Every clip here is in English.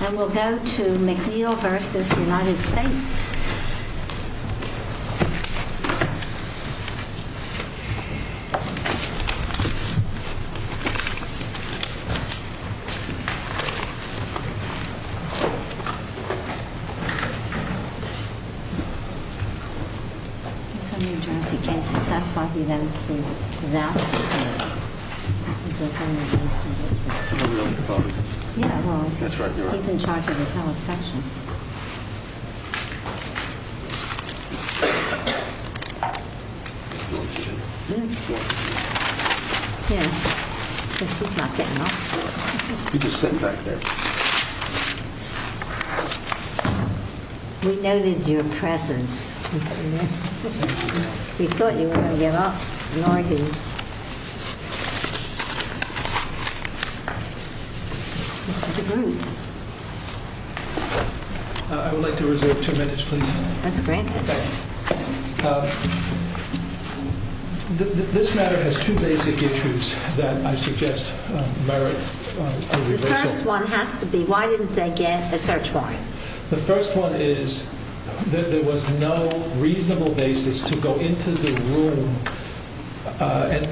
And we'll go to McNeill v. United States. He's in charge of the public session. We noted your presence, Mr. Neal. We thought you wouldn't give up, nor do you. I would like to reserve two minutes, please. That's granted. This matter has two basic issues that I suggest merit a reversal. The first one has to be, why didn't they get a search warrant? The first one is that there was no reasonable basis to go into the room and,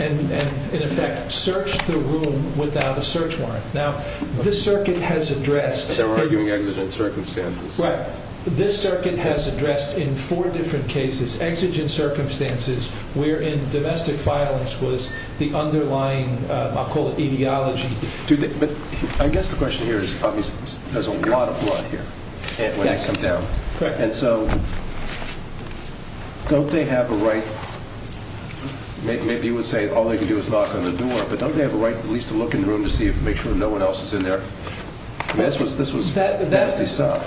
in effect, search the room without a search warrant. Now, this circuit has addressed... They were arguing exigent circumstances. Right. This circuit has addressed, in four different cases, exigent circumstances where domestic violence was the underlying, I'll call it, etiology. I guess the question here is, obviously, there's a lot of blood here when they come down. And so, don't they have a right... Maybe you would say all they can do is knock on the door, but don't they have a right at least to look in the room to make sure no one else is in there? This was nasty stuff.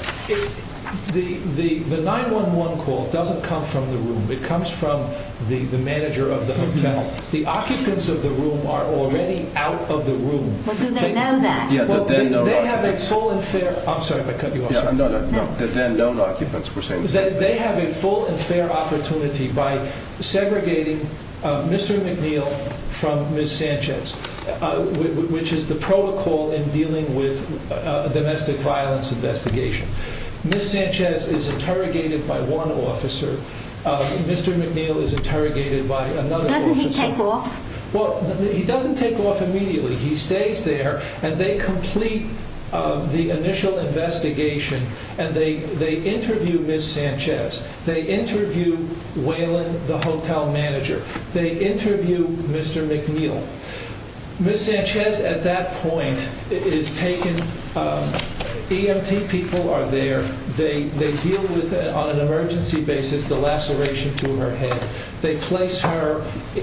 The 911 call doesn't come from the room. It comes from the manager of the hotel. The occupants of the room are already out of the room. Well, do they know that? They have a full and fair... I'm sorry if I cut you off. The then known occupants, we're saying. They have a full and fair opportunity by segregating Mr. McNeil from Ms. Sanchez, which is the protocol in dealing with a domestic violence investigation. Ms. Sanchez is interrogated by one officer. Mr. McNeil is interrogated by another officer. Doesn't he take off? Well, he doesn't take off immediately. He stays there. And they complete the initial investigation. And they interview Ms. Sanchez. They interview Waylon, the hotel manager. They interview Mr. McNeil. Ms. Sanchez, at that point, is taken... EMT people are there. They deal with, on an emergency basis, the laceration through her head. They place her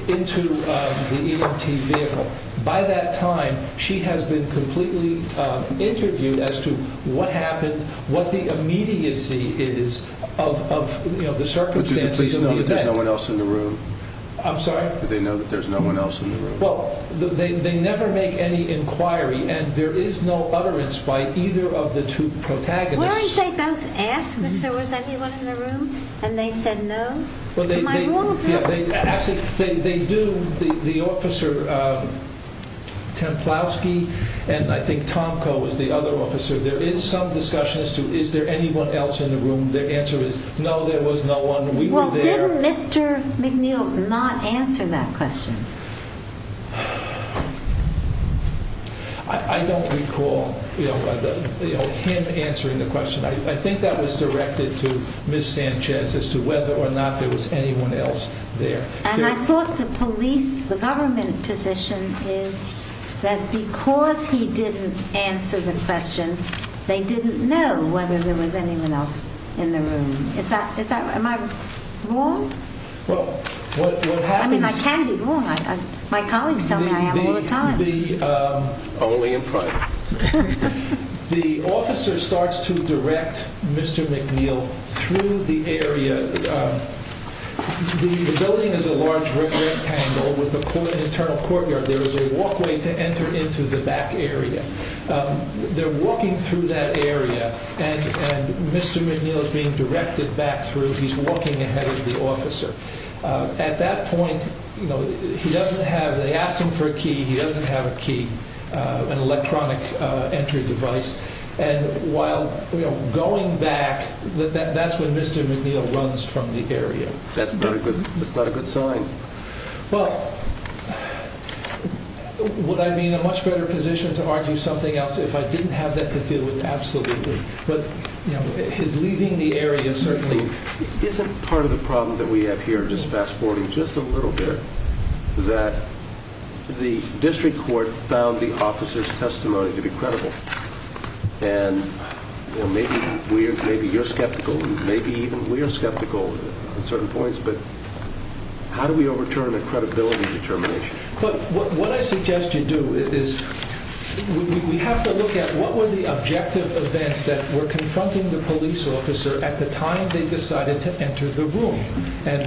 into the EMT vehicle. By that time, she has been completely interviewed as to what happened, what the immediacy is of the circumstances of the event. But do they please know that there's no one else in the room? I'm sorry? Do they know that there's no one else in the room? Well, they never make any inquiry. And there is no utterance by either of the two protagonists. Weren't they both asked if there was anyone in the room? And they said no? Well, they... Am I wrong? Actually, they do. The officer, Templowski, and I think Tomko was the other officer. There is some discussion as to, is there anyone else in the room? Their answer is, no, there was no one. We were there. Well, didn't Mr. McNeil not answer that question? I don't recall him answering the question. I think that was directed to Ms. Sanchez as to whether or not there was anyone else there. And I thought the police, the government position is that because he didn't answer the question, they didn't know whether there was anyone else in the room. Is that... Am I wrong? Well, what happens... I mean, I can be wrong. My colleagues tell me I have a lot of time. Only in private. The officer starts to direct Mr. McNeil through the area. The building is a large rectangle with an internal courtyard. There is a walkway to enter into the back area. They're walking through that area, and Mr. McNeil is being directed back through. He's walking ahead of the officer. At that point, he doesn't have... They ask him for a key. He doesn't have a key, an electronic entry device. And while going back, that's when Mr. McNeil runs from the area. That's not a good sign. Well, would I be in a much better position to argue something else if I didn't have that to deal with? Absolutely. But his leaving the area certainly... Isn't part of the problem that we have here, just fast-forwarding just a little bit, that the district court found the officer's testimony to be credible? And maybe you're skeptical, and maybe even we're skeptical at certain points, but how do we overturn a credibility determination? What I suggest you do is we have to look at what were the objective events that were confronting the police officer at the time they decided to enter the room. And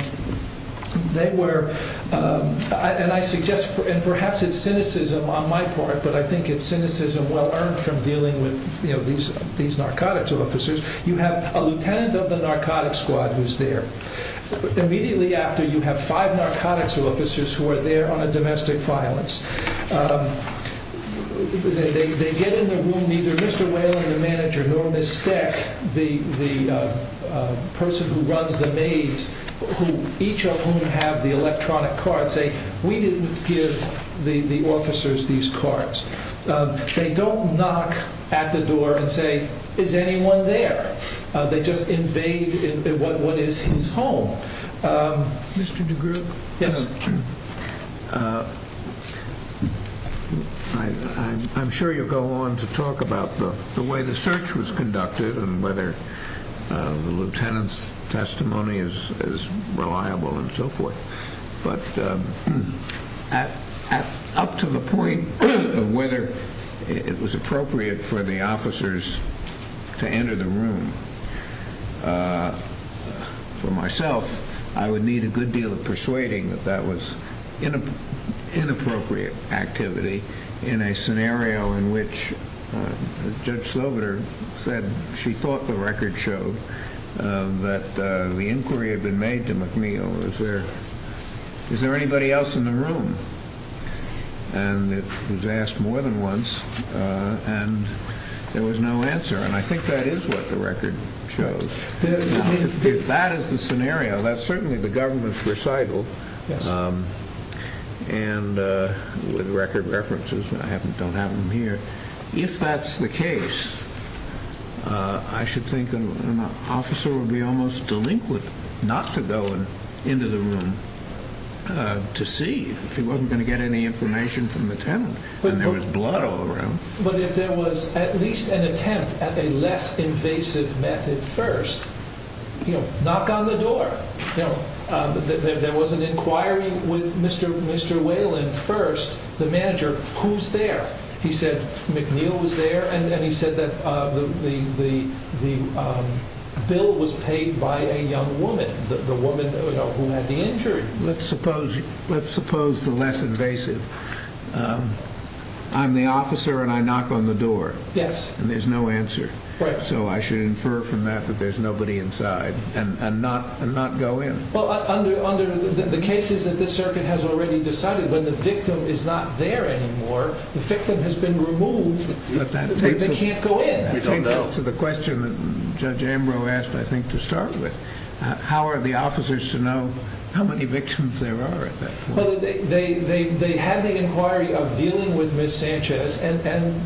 they were... And I suggest, and perhaps it's cynicism on my part, but I think it's cynicism well-earned from dealing with these narcotics officers. You have a lieutenant of the narcotics squad who's there. Immediately after, you have five narcotics officers who are there on a domestic violence. They get in the room, neither Mr. Whalen, the manager, nor Miss Steck, the person who runs the maze, each of whom have the electronic cards, say, we didn't give the officers these cards. They don't knock at the door and say, is anyone there? They just invade what is his home. Mr. DeGroote? Yes. I'm sure you'll go on to talk about the way the search was conducted and whether the lieutenant's testimony is reliable and so forth. But up to the point of whether it was appropriate for the officers to enter the room, for myself, I would need a good deal of persuading that that was inappropriate activity in a scenario in which Judge Slobiter said she thought the record showed that the inquiry had been made to McNeil. Is there anybody else in the room? And it was asked more than once, and there was no answer. And I think that is what the record shows. If that is the scenario, that's certainly the government's recital, and with record references, I don't have them here. If that's the case, I should think an officer would be almost delinquent not to go into the room to see if he wasn't going to get any information from the tenant. And there was blood all around. But if there was at least an attempt at a less invasive method first, knock on the door. There was an inquiry with Mr. Whalen first, the manager, who's there? He said McNeil was there, and he said that the bill was paid by a young woman, the woman who had the injury. Let's suppose the less invasive. I'm the officer, and I knock on the door, and there's no answer. So I should infer from that that there's nobody inside and not go in. Well, under the cases that this circuit has already decided, when the victim is not there anymore, the victim has been removed. They can't go in. That takes us to the question that Judge Ambrose asked, I think, to start with. How are the officers to know how many victims there are at that point? They had the inquiry of dealing with Ms. Sanchez, and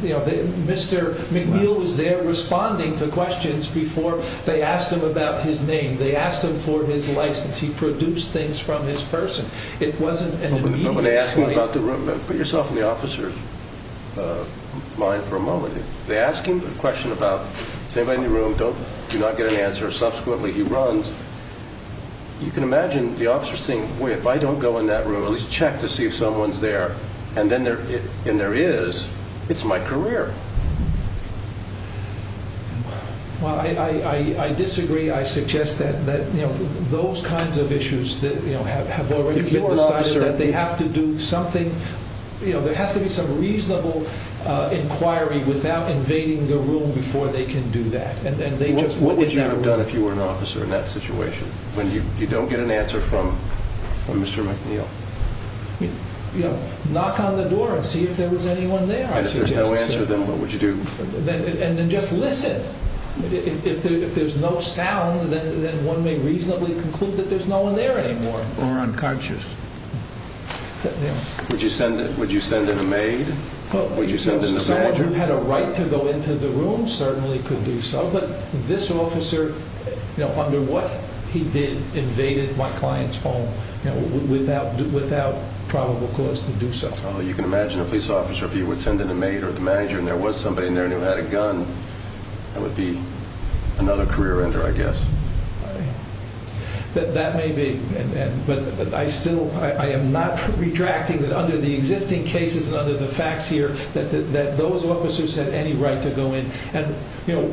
Mr. McNeil was there responding to questions before they asked him about his name. They asked him for his license. He produced things from his person. It wasn't an immediate claim. Put yourself in the officer's mind for a moment. They ask him a question about, is anybody in the room? Do not get an answer. Subsequently, he runs. You can imagine the officer saying, boy, if I don't go in that room or at least check to see if someone's there, and there is, it's my career. Well, I disagree. I suggest that those kinds of issues that have already been decided, that they have to do something. There has to be some reasonable inquiry without invading the room before they can do that. What would you have done if you were an officer in that situation, when you don't get an answer from Mr. McNeil? Knock on the door and see if there was anyone there. And if there's no answer, then what would you do? And then just listen. If there's no sound, then one may reasonably conclude that there's no one there anymore. Or unconscious. Would you send in a maid? Would you send in a manager? If the room had a right to go into the room, certainly could do so. But this officer, under what he did, invaded my client's home, without probable cause to do so. You can imagine a police officer, if he would send in a maid or the manager and there was somebody in there who had a gun, that would be another career ender, I guess. That may be. But I still am not retracting that under the existing cases and under the facts here, that those officers had any right to go in.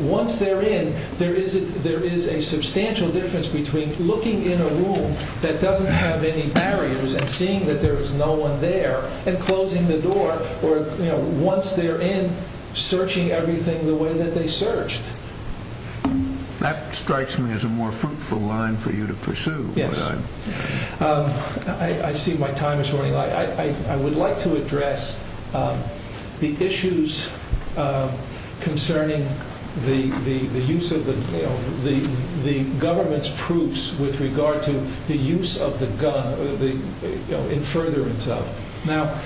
Once they're in, there is a substantial difference between looking in a room that doesn't have any barriers and seeing that there is no one there, and closing the door. Once they're in, searching everything the way that they searched. That strikes me as a more fruitful line for you to pursue. Yes. I see my time is running out. I would like to address the issues concerning the use of the government's proofs with regard to the use of the gun in furtherance of. Now,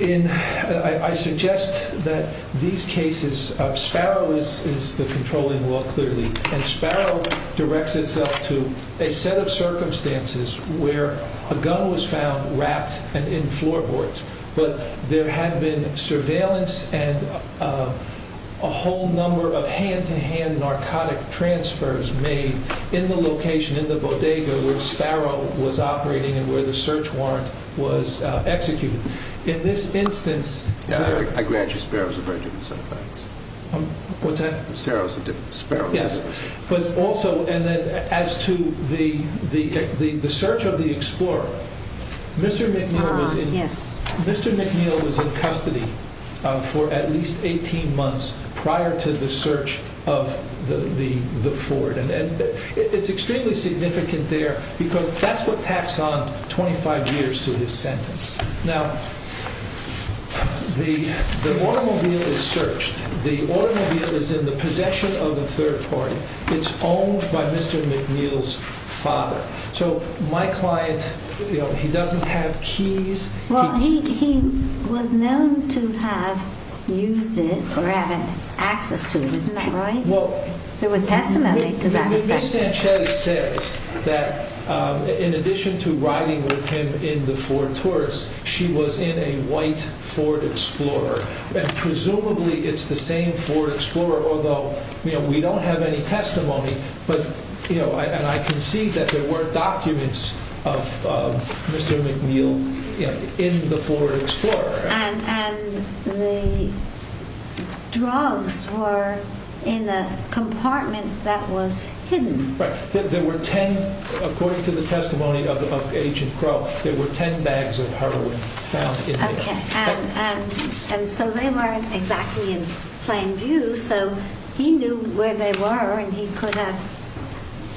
I suggest that these cases, Sparrow is the controlling law clearly, and Sparrow directs itself to a set of circumstances where a gun was found wrapped in floorboards, but there had been surveillance and a whole number of hand-to-hand narcotic transfers made in the location, in the bodega where Sparrow was operating and where the search warrant was executed. In this instance. I grant you Sparrow is a very different set of facts. Sparrow is a different set of facts. But also, as to the search of the Explorer, Mr. McNeil was in custody for at least 18 months prior to the search of the Ford. It's extremely significant there because that's what tacks on 25 years to his sentence. Now, the automobile is searched. The automobile is in the possession of a third party. It's owned by Mr. McNeil's father. So, my client, you know, he doesn't have keys. Well, he was known to have used it or had access to it. Isn't that right? There was testimony to that. Ms. Sanchez says that in addition to riding with him in the Ford Taurus, she was in a white Ford Explorer. Presumably, it's the same Ford Explorer, although, you know, we don't have any testimony. But, you know, and I can see that there were documents of Mr. McNeil in the Ford Explorer. And the drugs were in a compartment that was hidden. Right. There were 10, according to the testimony of Agent Crow, there were 10 bags of heroin found in there. Okay. And so they weren't exactly in plain view. So, he knew where they were and he could have,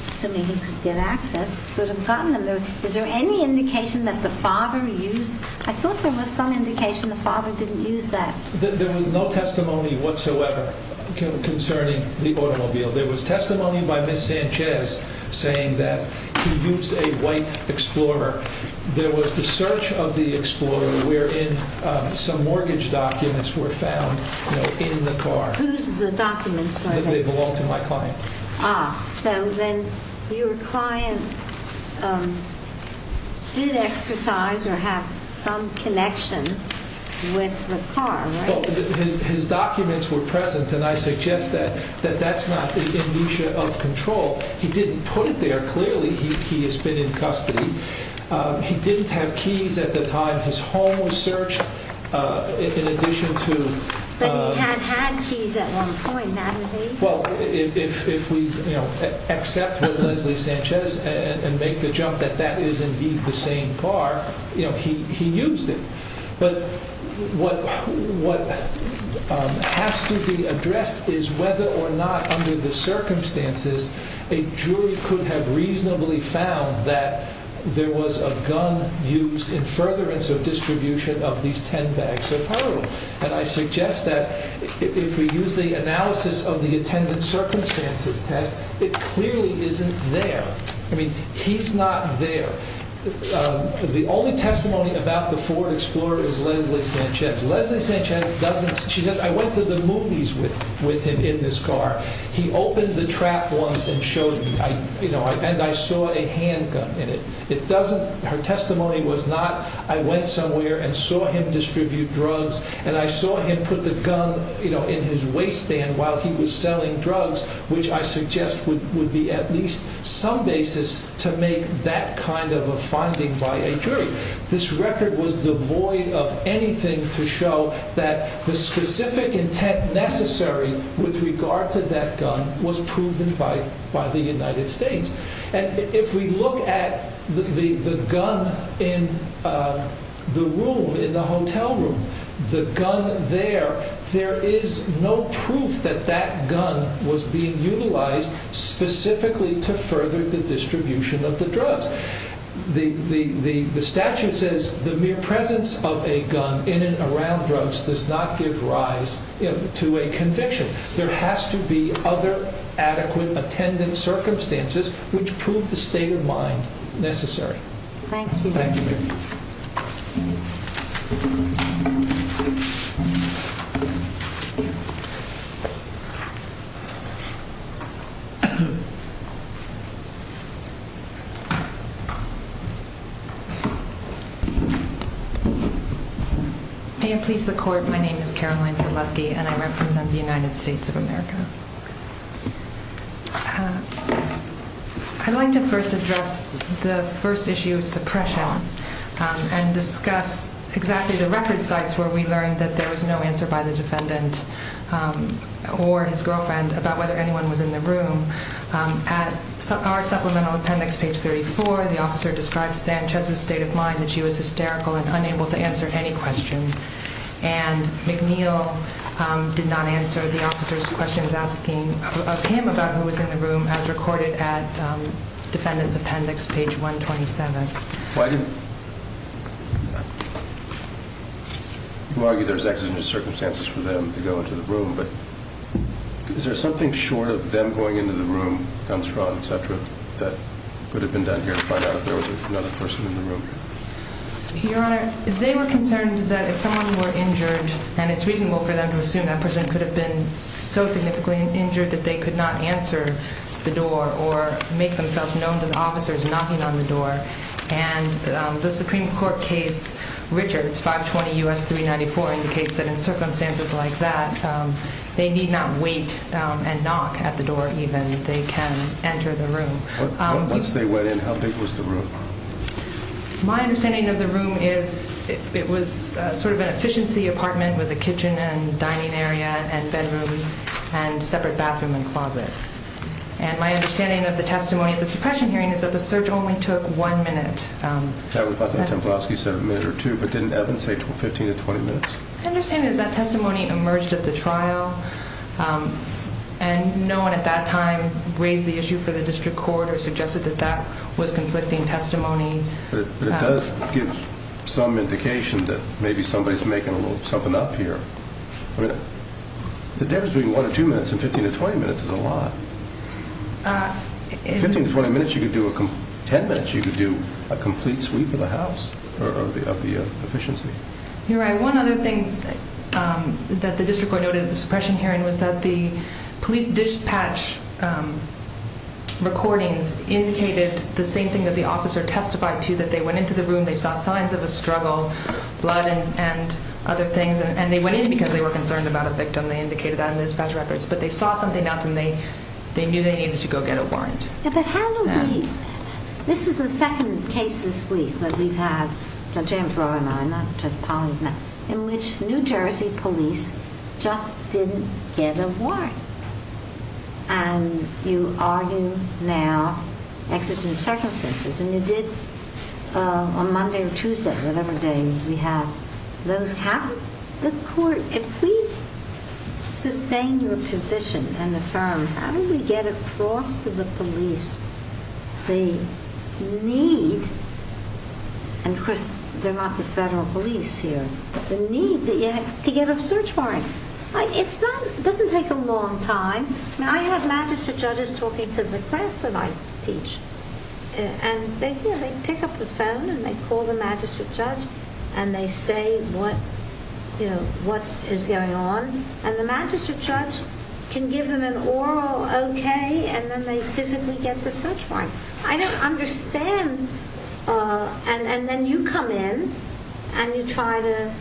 assuming he could get access, could have gotten them. Is there any indication that the father used? I thought there was some indication the father didn't use that. There was no testimony whatsoever concerning the automobile. There was testimony by Ms. Sanchez saying that he used a white Explorer. There was the search of the Explorer wherein some mortgage documents were found in the car. Whose documents were they? They belonged to my client. Ah, so then your client did exercise or have some connection with the car, right? Well, his documents were present and I suggest that that's not the amnesia of control. He didn't put it there. Clearly, he has been in custody. He didn't have keys at the time his home was searched in addition to. But he had had keys at one point, hadn't he? Well, if we accept with Leslie Sanchez and make the jump that that is indeed the same car, he used it. But what has to be addressed is whether or not under the circumstances a jury could have reasonably found that there was a gun used in furtherance of distribution of these 10 bags of heroin. And I suggest that if we use the analysis of the attendant circumstances test, it clearly isn't there. I mean, he's not there. The only testimony about the Ford Explorer is Leslie Sanchez. Leslie Sanchez doesn't, she doesn't, I went to the movies with him in this car. He opened the trap once and showed me, you know, and I saw a handgun in it. It doesn't, her testimony was not, I went somewhere and saw him distribute drugs. And I saw him put the gun, you know, in his waistband while he was selling drugs, which I suggest would be at least some basis to make that kind of a finding by a jury. This record was devoid of anything to show that the specific intent necessary with regard to that gun was proven by the United States. And if we look at the gun in the room, in the hotel room, the gun there, there is no proof that that gun was being utilized specifically to further the distribution of the drugs. The statute says the mere presence of a gun in and around drugs does not give rise to a conviction. There has to be other adequate attendant circumstances which prove the state of mind necessary. Thank you. May it please the court, my name is Caroline Sadlewski and I represent the United States of America. I'd like to first address the first issue of suppression and discuss exactly the record sites where we learned that there was no answer by the defendant or his girlfriend about whether anyone was in the room. At our supplemental appendix, page 34, the officer described Sanchez's state of mind, that she was hysterical and unable to answer any question. And McNeil did not answer the officer's questions asking of him about who was in the room as recorded at defendant's appendix, page 127. You argue there's exigent circumstances for them to go into the room, but is there something short of them going into the room, guns drawn, etc., that could have been done here to find out if there was another person in the room? Your Honor, they were concerned that if someone were injured, and it's reasonable for them to assume that person could have been so significantly injured that they could not answer the door or make themselves known to the officers knocking on the door, and the Supreme Court case Richards, 520 U.S. 394, indicates that in circumstances like that, they need not wait and knock at the door even. They can enter the room. Once they went in, how big was the room? My understanding of the room is it was sort of an efficiency apartment with a kitchen and dining area and bedroom and separate bathroom and closet. And my understanding of the testimony at the suppression hearing is that the search only took one minute. That was what the Templowski said, a minute or two, but didn't Evans say 15 to 20 minutes? My understanding is that testimony emerged at the trial, and no one at that time raised the issue for the district court or suggested that that was conflicting testimony. But it does give some indication that maybe somebody's making something up here. The difference between one or two minutes and 15 to 20 minutes is a lot. In 15 to 20 minutes, you could do a complete sweep of the house of the efficiency. You're right. One other thing that the district court noted at the suppression hearing was that the police dispatch recordings indicated the same thing that the officer testified to, that they went into the room, they saw signs of a struggle, blood and other things, and they went in because they were concerned about a victim. They indicated that in the dispatch records. But they saw something else, and they knew they needed to go get a warrant. Yeah, but how do we? This is the second case this week that we've had, that James Rowe and I, not Pauline, in which New Jersey police just didn't get a warrant. And you argue now exigent circumstances. And you did on Monday or Tuesday, whatever day we have, those happen. If we sustain your position and affirm, how do we get across to the police the need, and of course they're not the federal police here, the need to get a search warrant? It doesn't take a long time. I have magistrate judges talking to the class that I teach, and they pick up the phone and they call the magistrate judge and they say what is going on. And the magistrate judge can give them an oral okay, and then they physically get the search warrant. I don't understand. And then you come in and you try to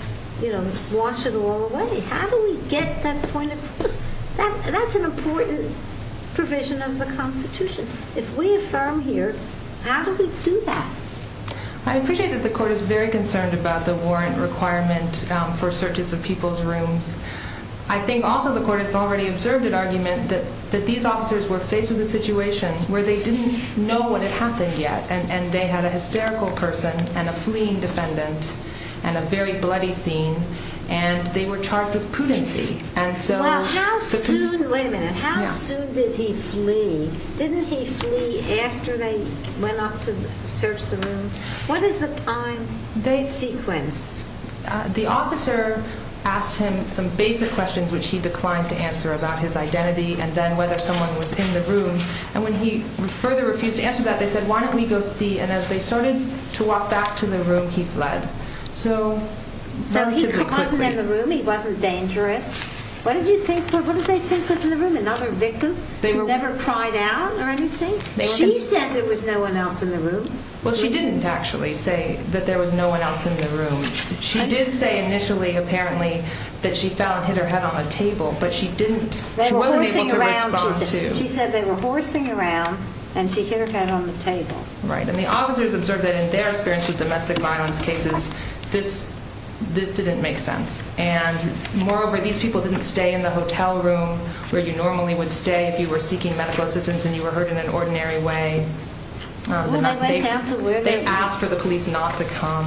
wash it all away. How do we get that point across? That's an important provision of the Constitution. If we affirm here, how do we do that? I appreciate that the court is very concerned about the warrant requirement for searches of people's rooms. I think also the court has already observed an argument that these officers were faced with a situation where they didn't know what had happened yet, and they had a hysterical person and a fleeing defendant and a very bloody scene, and they were charged with prudency. Wait a minute, how soon did he flee? Didn't he flee after they went up to search the room? What is the time sequence? The officer asked him some basic questions which he declined to answer about his identity and then whether someone was in the room. And when he further refused to answer that, they said why don't we go see, and as they started to walk back to the room, he fled relatively quickly. He wasn't in the room, he wasn't dangerous. What did they think was in the room? Another victim who never cried out or anything? She said there was no one else in the room. Well, she didn't actually say that there was no one else in the room. She did say initially, apparently, that she fell and hit her head on a table, but she didn't. She wasn't able to respond to. Right, and the officers observed that in their experience with domestic violence cases, this didn't make sense. And moreover, these people didn't stay in the hotel room where you normally would stay if you were seeking medical assistance and you were hurt in an ordinary way. They asked for the police not to come,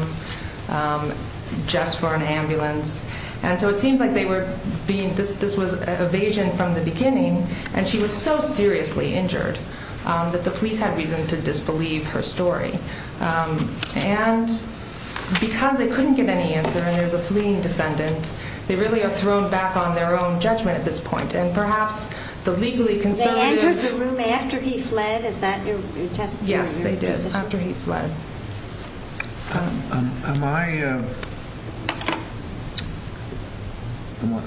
just for an ambulance. And so it seems like this was evasion from the beginning, and she was so seriously injured that the police had reason to disbelieve her story. And because they couldn't get any answer and there was a fleeing defendant, they really are thrown back on their own judgment at this point. And perhaps the legally conservative... They entered the room after he fled? Is that your testimony? Yes, they did, after he fled.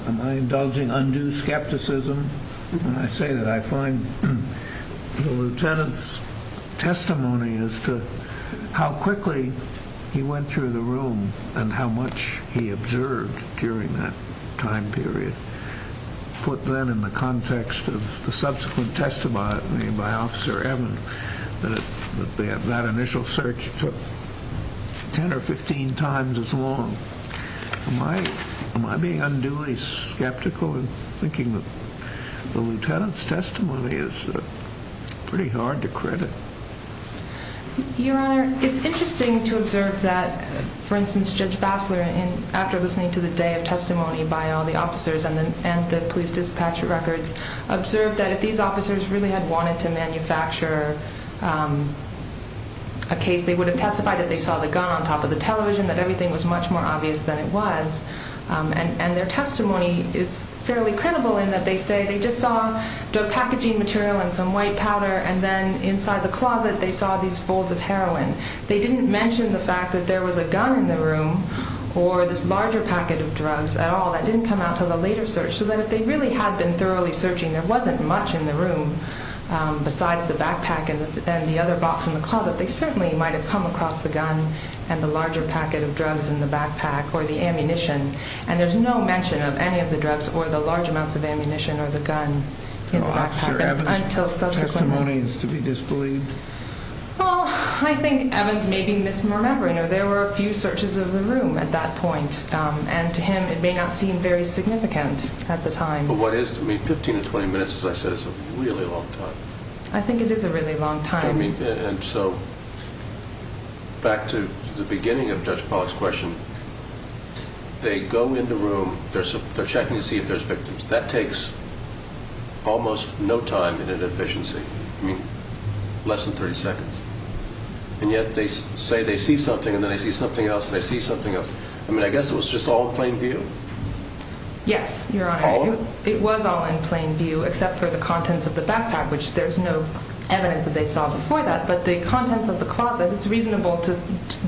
Am I indulging undue skepticism when I say that I find the lieutenant's testimony as to how quickly he went through the room and how much he observed during that time period, put then in the context of the subsequent testimony by Officer Evans, that that initial search took 10 or 15 times as long? Am I being unduly skeptical in thinking that the lieutenant's testimony is pretty hard to credit? Your Honor, it's interesting to observe that, for instance, Judge Bassler, after listening to the day of testimony by all the officers and the police dispatcher records, observed that if these officers really had wanted to manufacture a case, they would have testified that they saw the gun on top of the television, that everything was much more obvious than it was. And their testimony is fairly credible in that they say they just saw drug packaging material and some white powder, and then inside the closet they saw these folds of heroin. They didn't mention the fact that there was a gun in the room or this larger packet of drugs at all. That didn't come out until the later search, so that if they really had been thoroughly searching, there wasn't much in the room besides the backpack and the other box in the closet. They certainly might have come across the gun and the larger packet of drugs in the backpack or the ammunition, and there's no mention of any of the drugs or the large amounts of ammunition or the gun in the backpack until subsequent. Officer Evans' testimony is to be disbelieved? Well, I think Evans may be misremembering, or there were a few searches of the room at that point, and to him it may not seem very significant at the time. But what is to me, 15 to 20 minutes, as I said, is a really long time. I think it is a really long time. And so back to the beginning of Judge Pollack's question, they go in the room, they're checking to see if there's victims. That takes almost no time and inefficiency, I mean, less than 30 seconds. And yet they say they see something, and then they see something else, and they see something else. I mean, I guess it was just all in plain view? Yes, Your Honor. All of it? It was all in plain view except for the contents of the backpack, which there's no evidence that they saw before that. But the contents of the closet, it's reasonable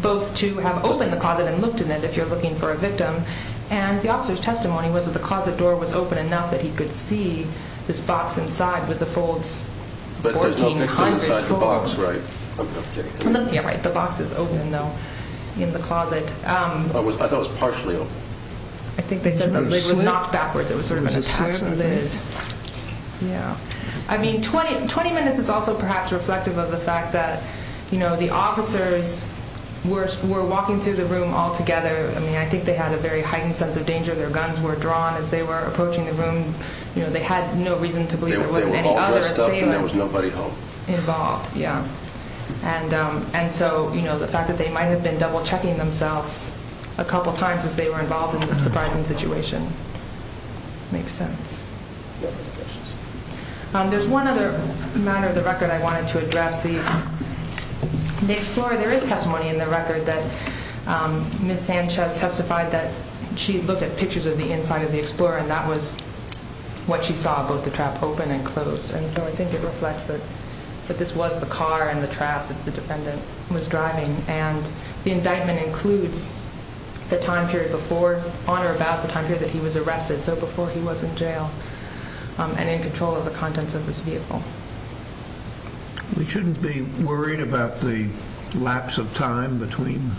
both to have opened the closet and looked in it if you're looking for a victim. And the officer's testimony was that the closet door was open enough that he could see this box inside with the folds, 1,400 folds. But there's no victim inside the box, right? Yeah, right. The box is open, though, in the closet. I thought it was partially open. I think they said the lid was knocked backwards. It was sort of an attached lid. I mean, 20 minutes is also perhaps reflective of the fact that, you know, the officers were walking through the room all together. I mean, I think they had a very heightened sense of danger. Their guns were drawn as they were approaching the room. They had no reason to believe there wasn't any other assailant involved. Yeah. And so, you know, the fact that they might have been double-checking themselves a couple times as they were involved in this surprising situation makes sense. There's one other matter of the record I wanted to address. The Explorer, there is testimony in the record that Ms. Sanchez testified that she looked at pictures of the inside of the Explorer, and that was what she saw, both the trap open and closed. And so I think it reflects that this was the car and the trap that the defendant was driving. And the indictment includes the time period before, on or about the time period that he was arrested, so before he was in jail and in control of the contents of this vehicle. We shouldn't be worried about the lapse of time between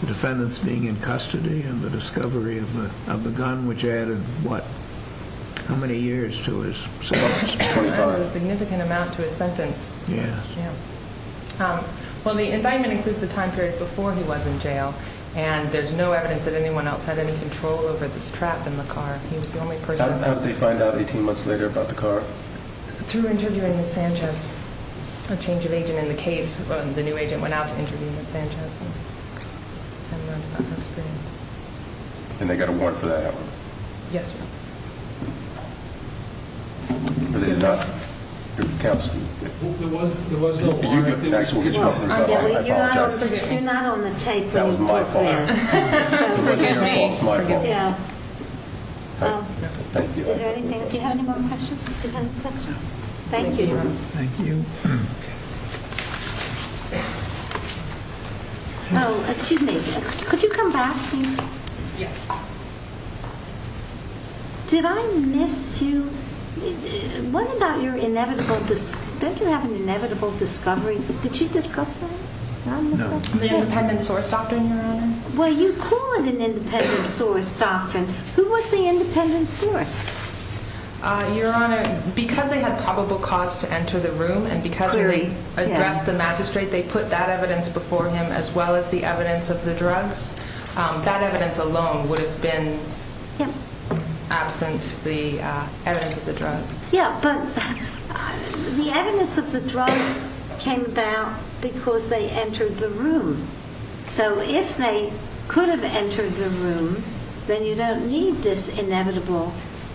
the defendants being in custody and the discovery of the gun, which added, what, how many years to his sentence? Twenty-five. A significant amount to his sentence. Yeah. Yeah. Well, the indictment includes the time period before he was in jail, and there's no evidence that anyone else had any control over this trap in the car. He was the only person. How did they find out 18 months later about the car? Through interviewing Ms. Sanchez, a change of agent in the case. The new agent went out to interview Ms. Sanchez and learned about her experience. And they got a warrant for that? Yes, sir. They did not? There was no warrant. I apologize. You're not on the tape. That was my fault. That was my fault. Yeah. Thank you. Do you have any more questions? Thank you. Thank you. Excuse me. Could you come back here? Yeah. Did I miss you? What about your inevitable, don't you have an inevitable discovery? Did you discuss that? No. The independent source doctrine, Your Honor? Well, you call it an independent source doctrine. Who was the independent source? Your Honor, because they had probable cause to enter the room and because they addressed the magistrate, they put that evidence before him as well as the evidence of the drugs. That evidence alone would have been absent the evidence of the drugs. Yeah, but the evidence of the drugs came about because they entered the room. So if they could have entered the room, then you don't need this inevitable,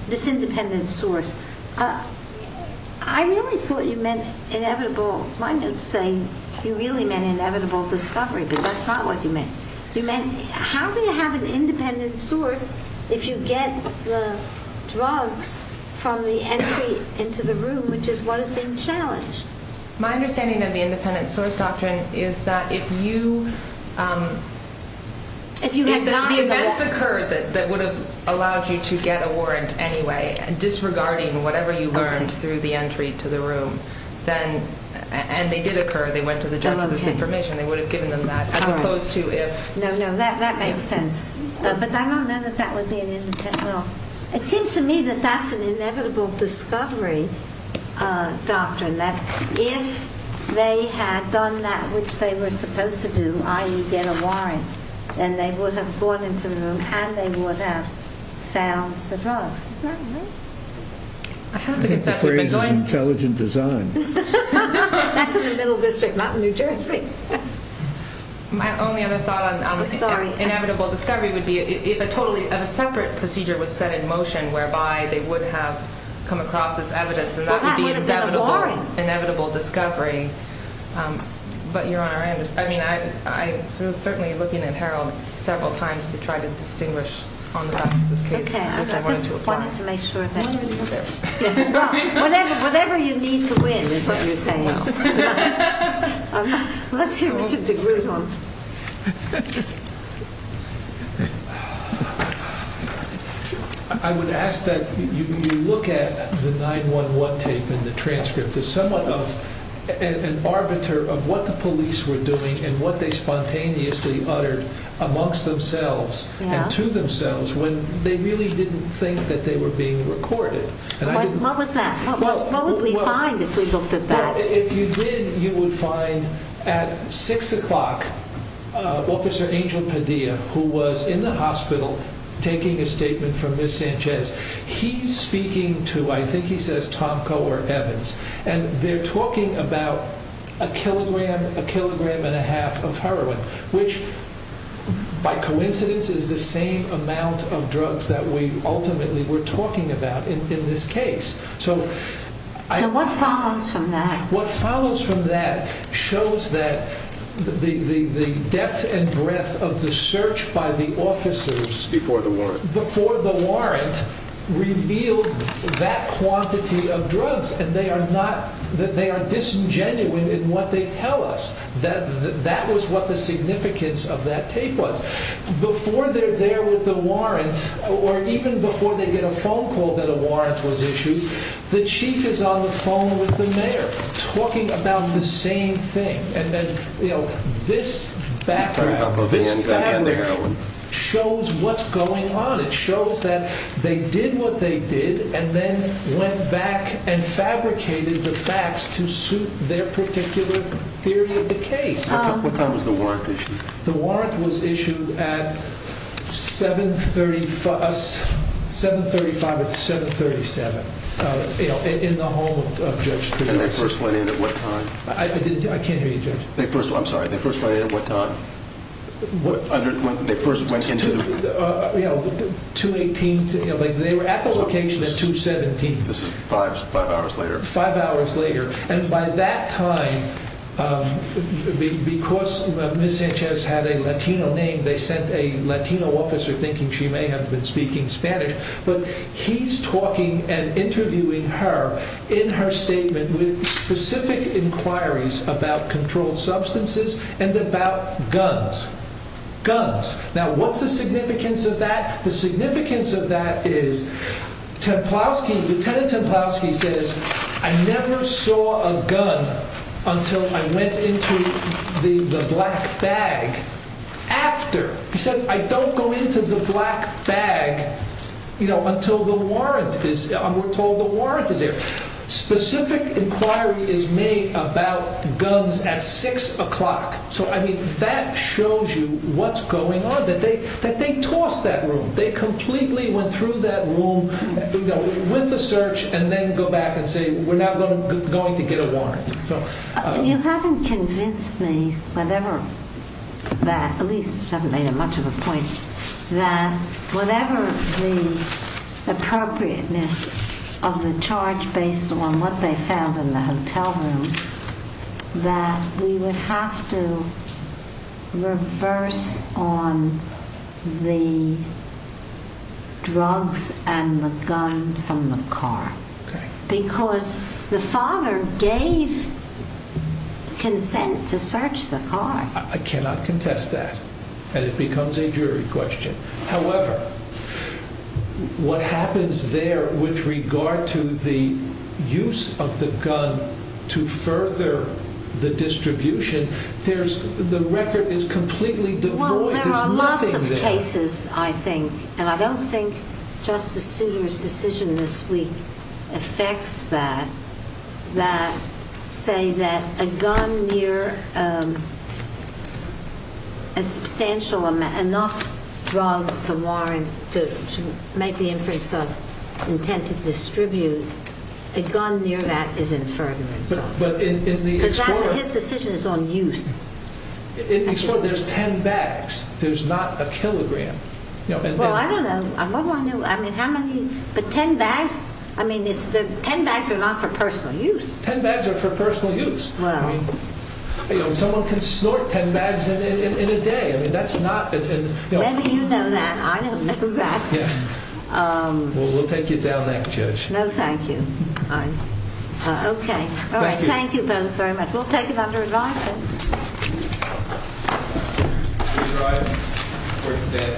this independent source. I really thought you meant inevitable. My notes say you really meant inevitable discovery, but that's not what you meant. You meant, how do you have an independent source if you get the drugs from the entry into the room, which is what is being challenged? My understanding of the independent source doctrine is that if you, if the events occurred that would have allowed you to get a warrant anyway, disregarding whatever you learned through the entry to the room, and they did occur, they went to the judge with this information, they would have given them that, as opposed to if... No, no, that makes sense. But I don't know that that would be an independent... Well, it seems to me that that's an inevitable discovery doctrine, that if they had done that which they were supposed to do, i.e. get a warrant, then they would have gone into the room and they would have found the drugs. Isn't that right? I think the phrase is intelligent design. That's in the Middle District, not in New Jersey. My only other thought on inevitable discovery would be if a totally separate procedure was set in motion whereby they would have come across this evidence, and that would be inevitable discovery. But Your Honor, I mean, I was certainly looking at Harold several times to try to distinguish on the back of this case. Okay, I just wanted to make sure that... Whatever you need to win is what you're saying. Let's hear Mr. DeGruy. I would ask that you look at the 9-1-1 tape and the transcript as somewhat of an arbiter of what the police were doing and what they spontaneously uttered amongst themselves and to themselves when they really didn't think that they were being recorded. What was that? What would we find if we looked at that? If you did, you would find at 6 o'clock, Officer Angel Padilla, who was in the hospital taking a statement from Ms. Sanchez. He's speaking to, I think he says Tom Coe or Evans, and they're talking about a kilogram, a kilogram and a half of heroin, which by coincidence is the same amount of drugs that we ultimately were talking about in this case. So what follows from that? What follows from that shows that the depth and breadth of the search by the officers... Before the warrant. Before the warrant revealed that quantity of drugs and they are disingenuous in what they tell us. That was what the significance of that tape was. Before they're there with the warrant, or even before they get a phone call that a warrant was issued, the chief is on the phone with the mayor, talking about the same thing. And then, you know, this background, this background shows what's going on. It shows that they did what they did and then went back and fabricated the facts to suit their particular theory of the case. What time was the warrant issued? The warrant was issued at 735 or 737, you know, in the home of Judge Trudeau. And they first went in at what time? I can't hear you, Judge. I'm sorry, they first went in at what time? When they first went into the... You know, 2-18. They were at the location at 2-17. This is five hours later. Five hours later. And by that time, because Ms. Sanchez had a Latino name, they sent a Latino officer thinking she may have been speaking Spanish. But he's talking and interviewing her in her statement with specific inquiries about controlled substances and about guns. Guns. Now, what's the significance of that? The significance of that is Lieutenant Templowski says, I never saw a gun until I went into the black bag. After. He says, I don't go into the black bag until the warrant is there. Specific inquiry is made about guns at 6 o'clock. So, I mean, that shows you what's going on. That they tossed that room. They completely went through that room with the search and then go back and say, we're now going to get a warrant. You haven't convinced me, at least you haven't made much of a point, that whatever the appropriateness of the charge based on what they found in the hotel room, that we would have to reverse on the drugs and the gun from the car. Because the father gave consent to search the car. I cannot contest that. And it becomes a jury question. However, what happens there with regard to the use of the gun to further the distribution, the record is completely devoid. Well, there are lots of cases, I think, and I don't think Justice Souter's decision this week affects that, that say that a gun near a substantial amount, enough drugs to warrant, to make the inference of intent to distribute, a gun near that is in furtherance. Because his decision is on use. There's 10 bags. There's not a kilogram. Well, I don't know. But 10 bags? I mean, 10 bags are not for personal use. 10 bags are for personal use. Someone can snort 10 bags in a day. Maybe you know that. I don't know that. Well, we'll take you down that, Judge. No, thank you. Okay. All right, thank you both very much. We'll take it under advisement. Thank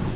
you.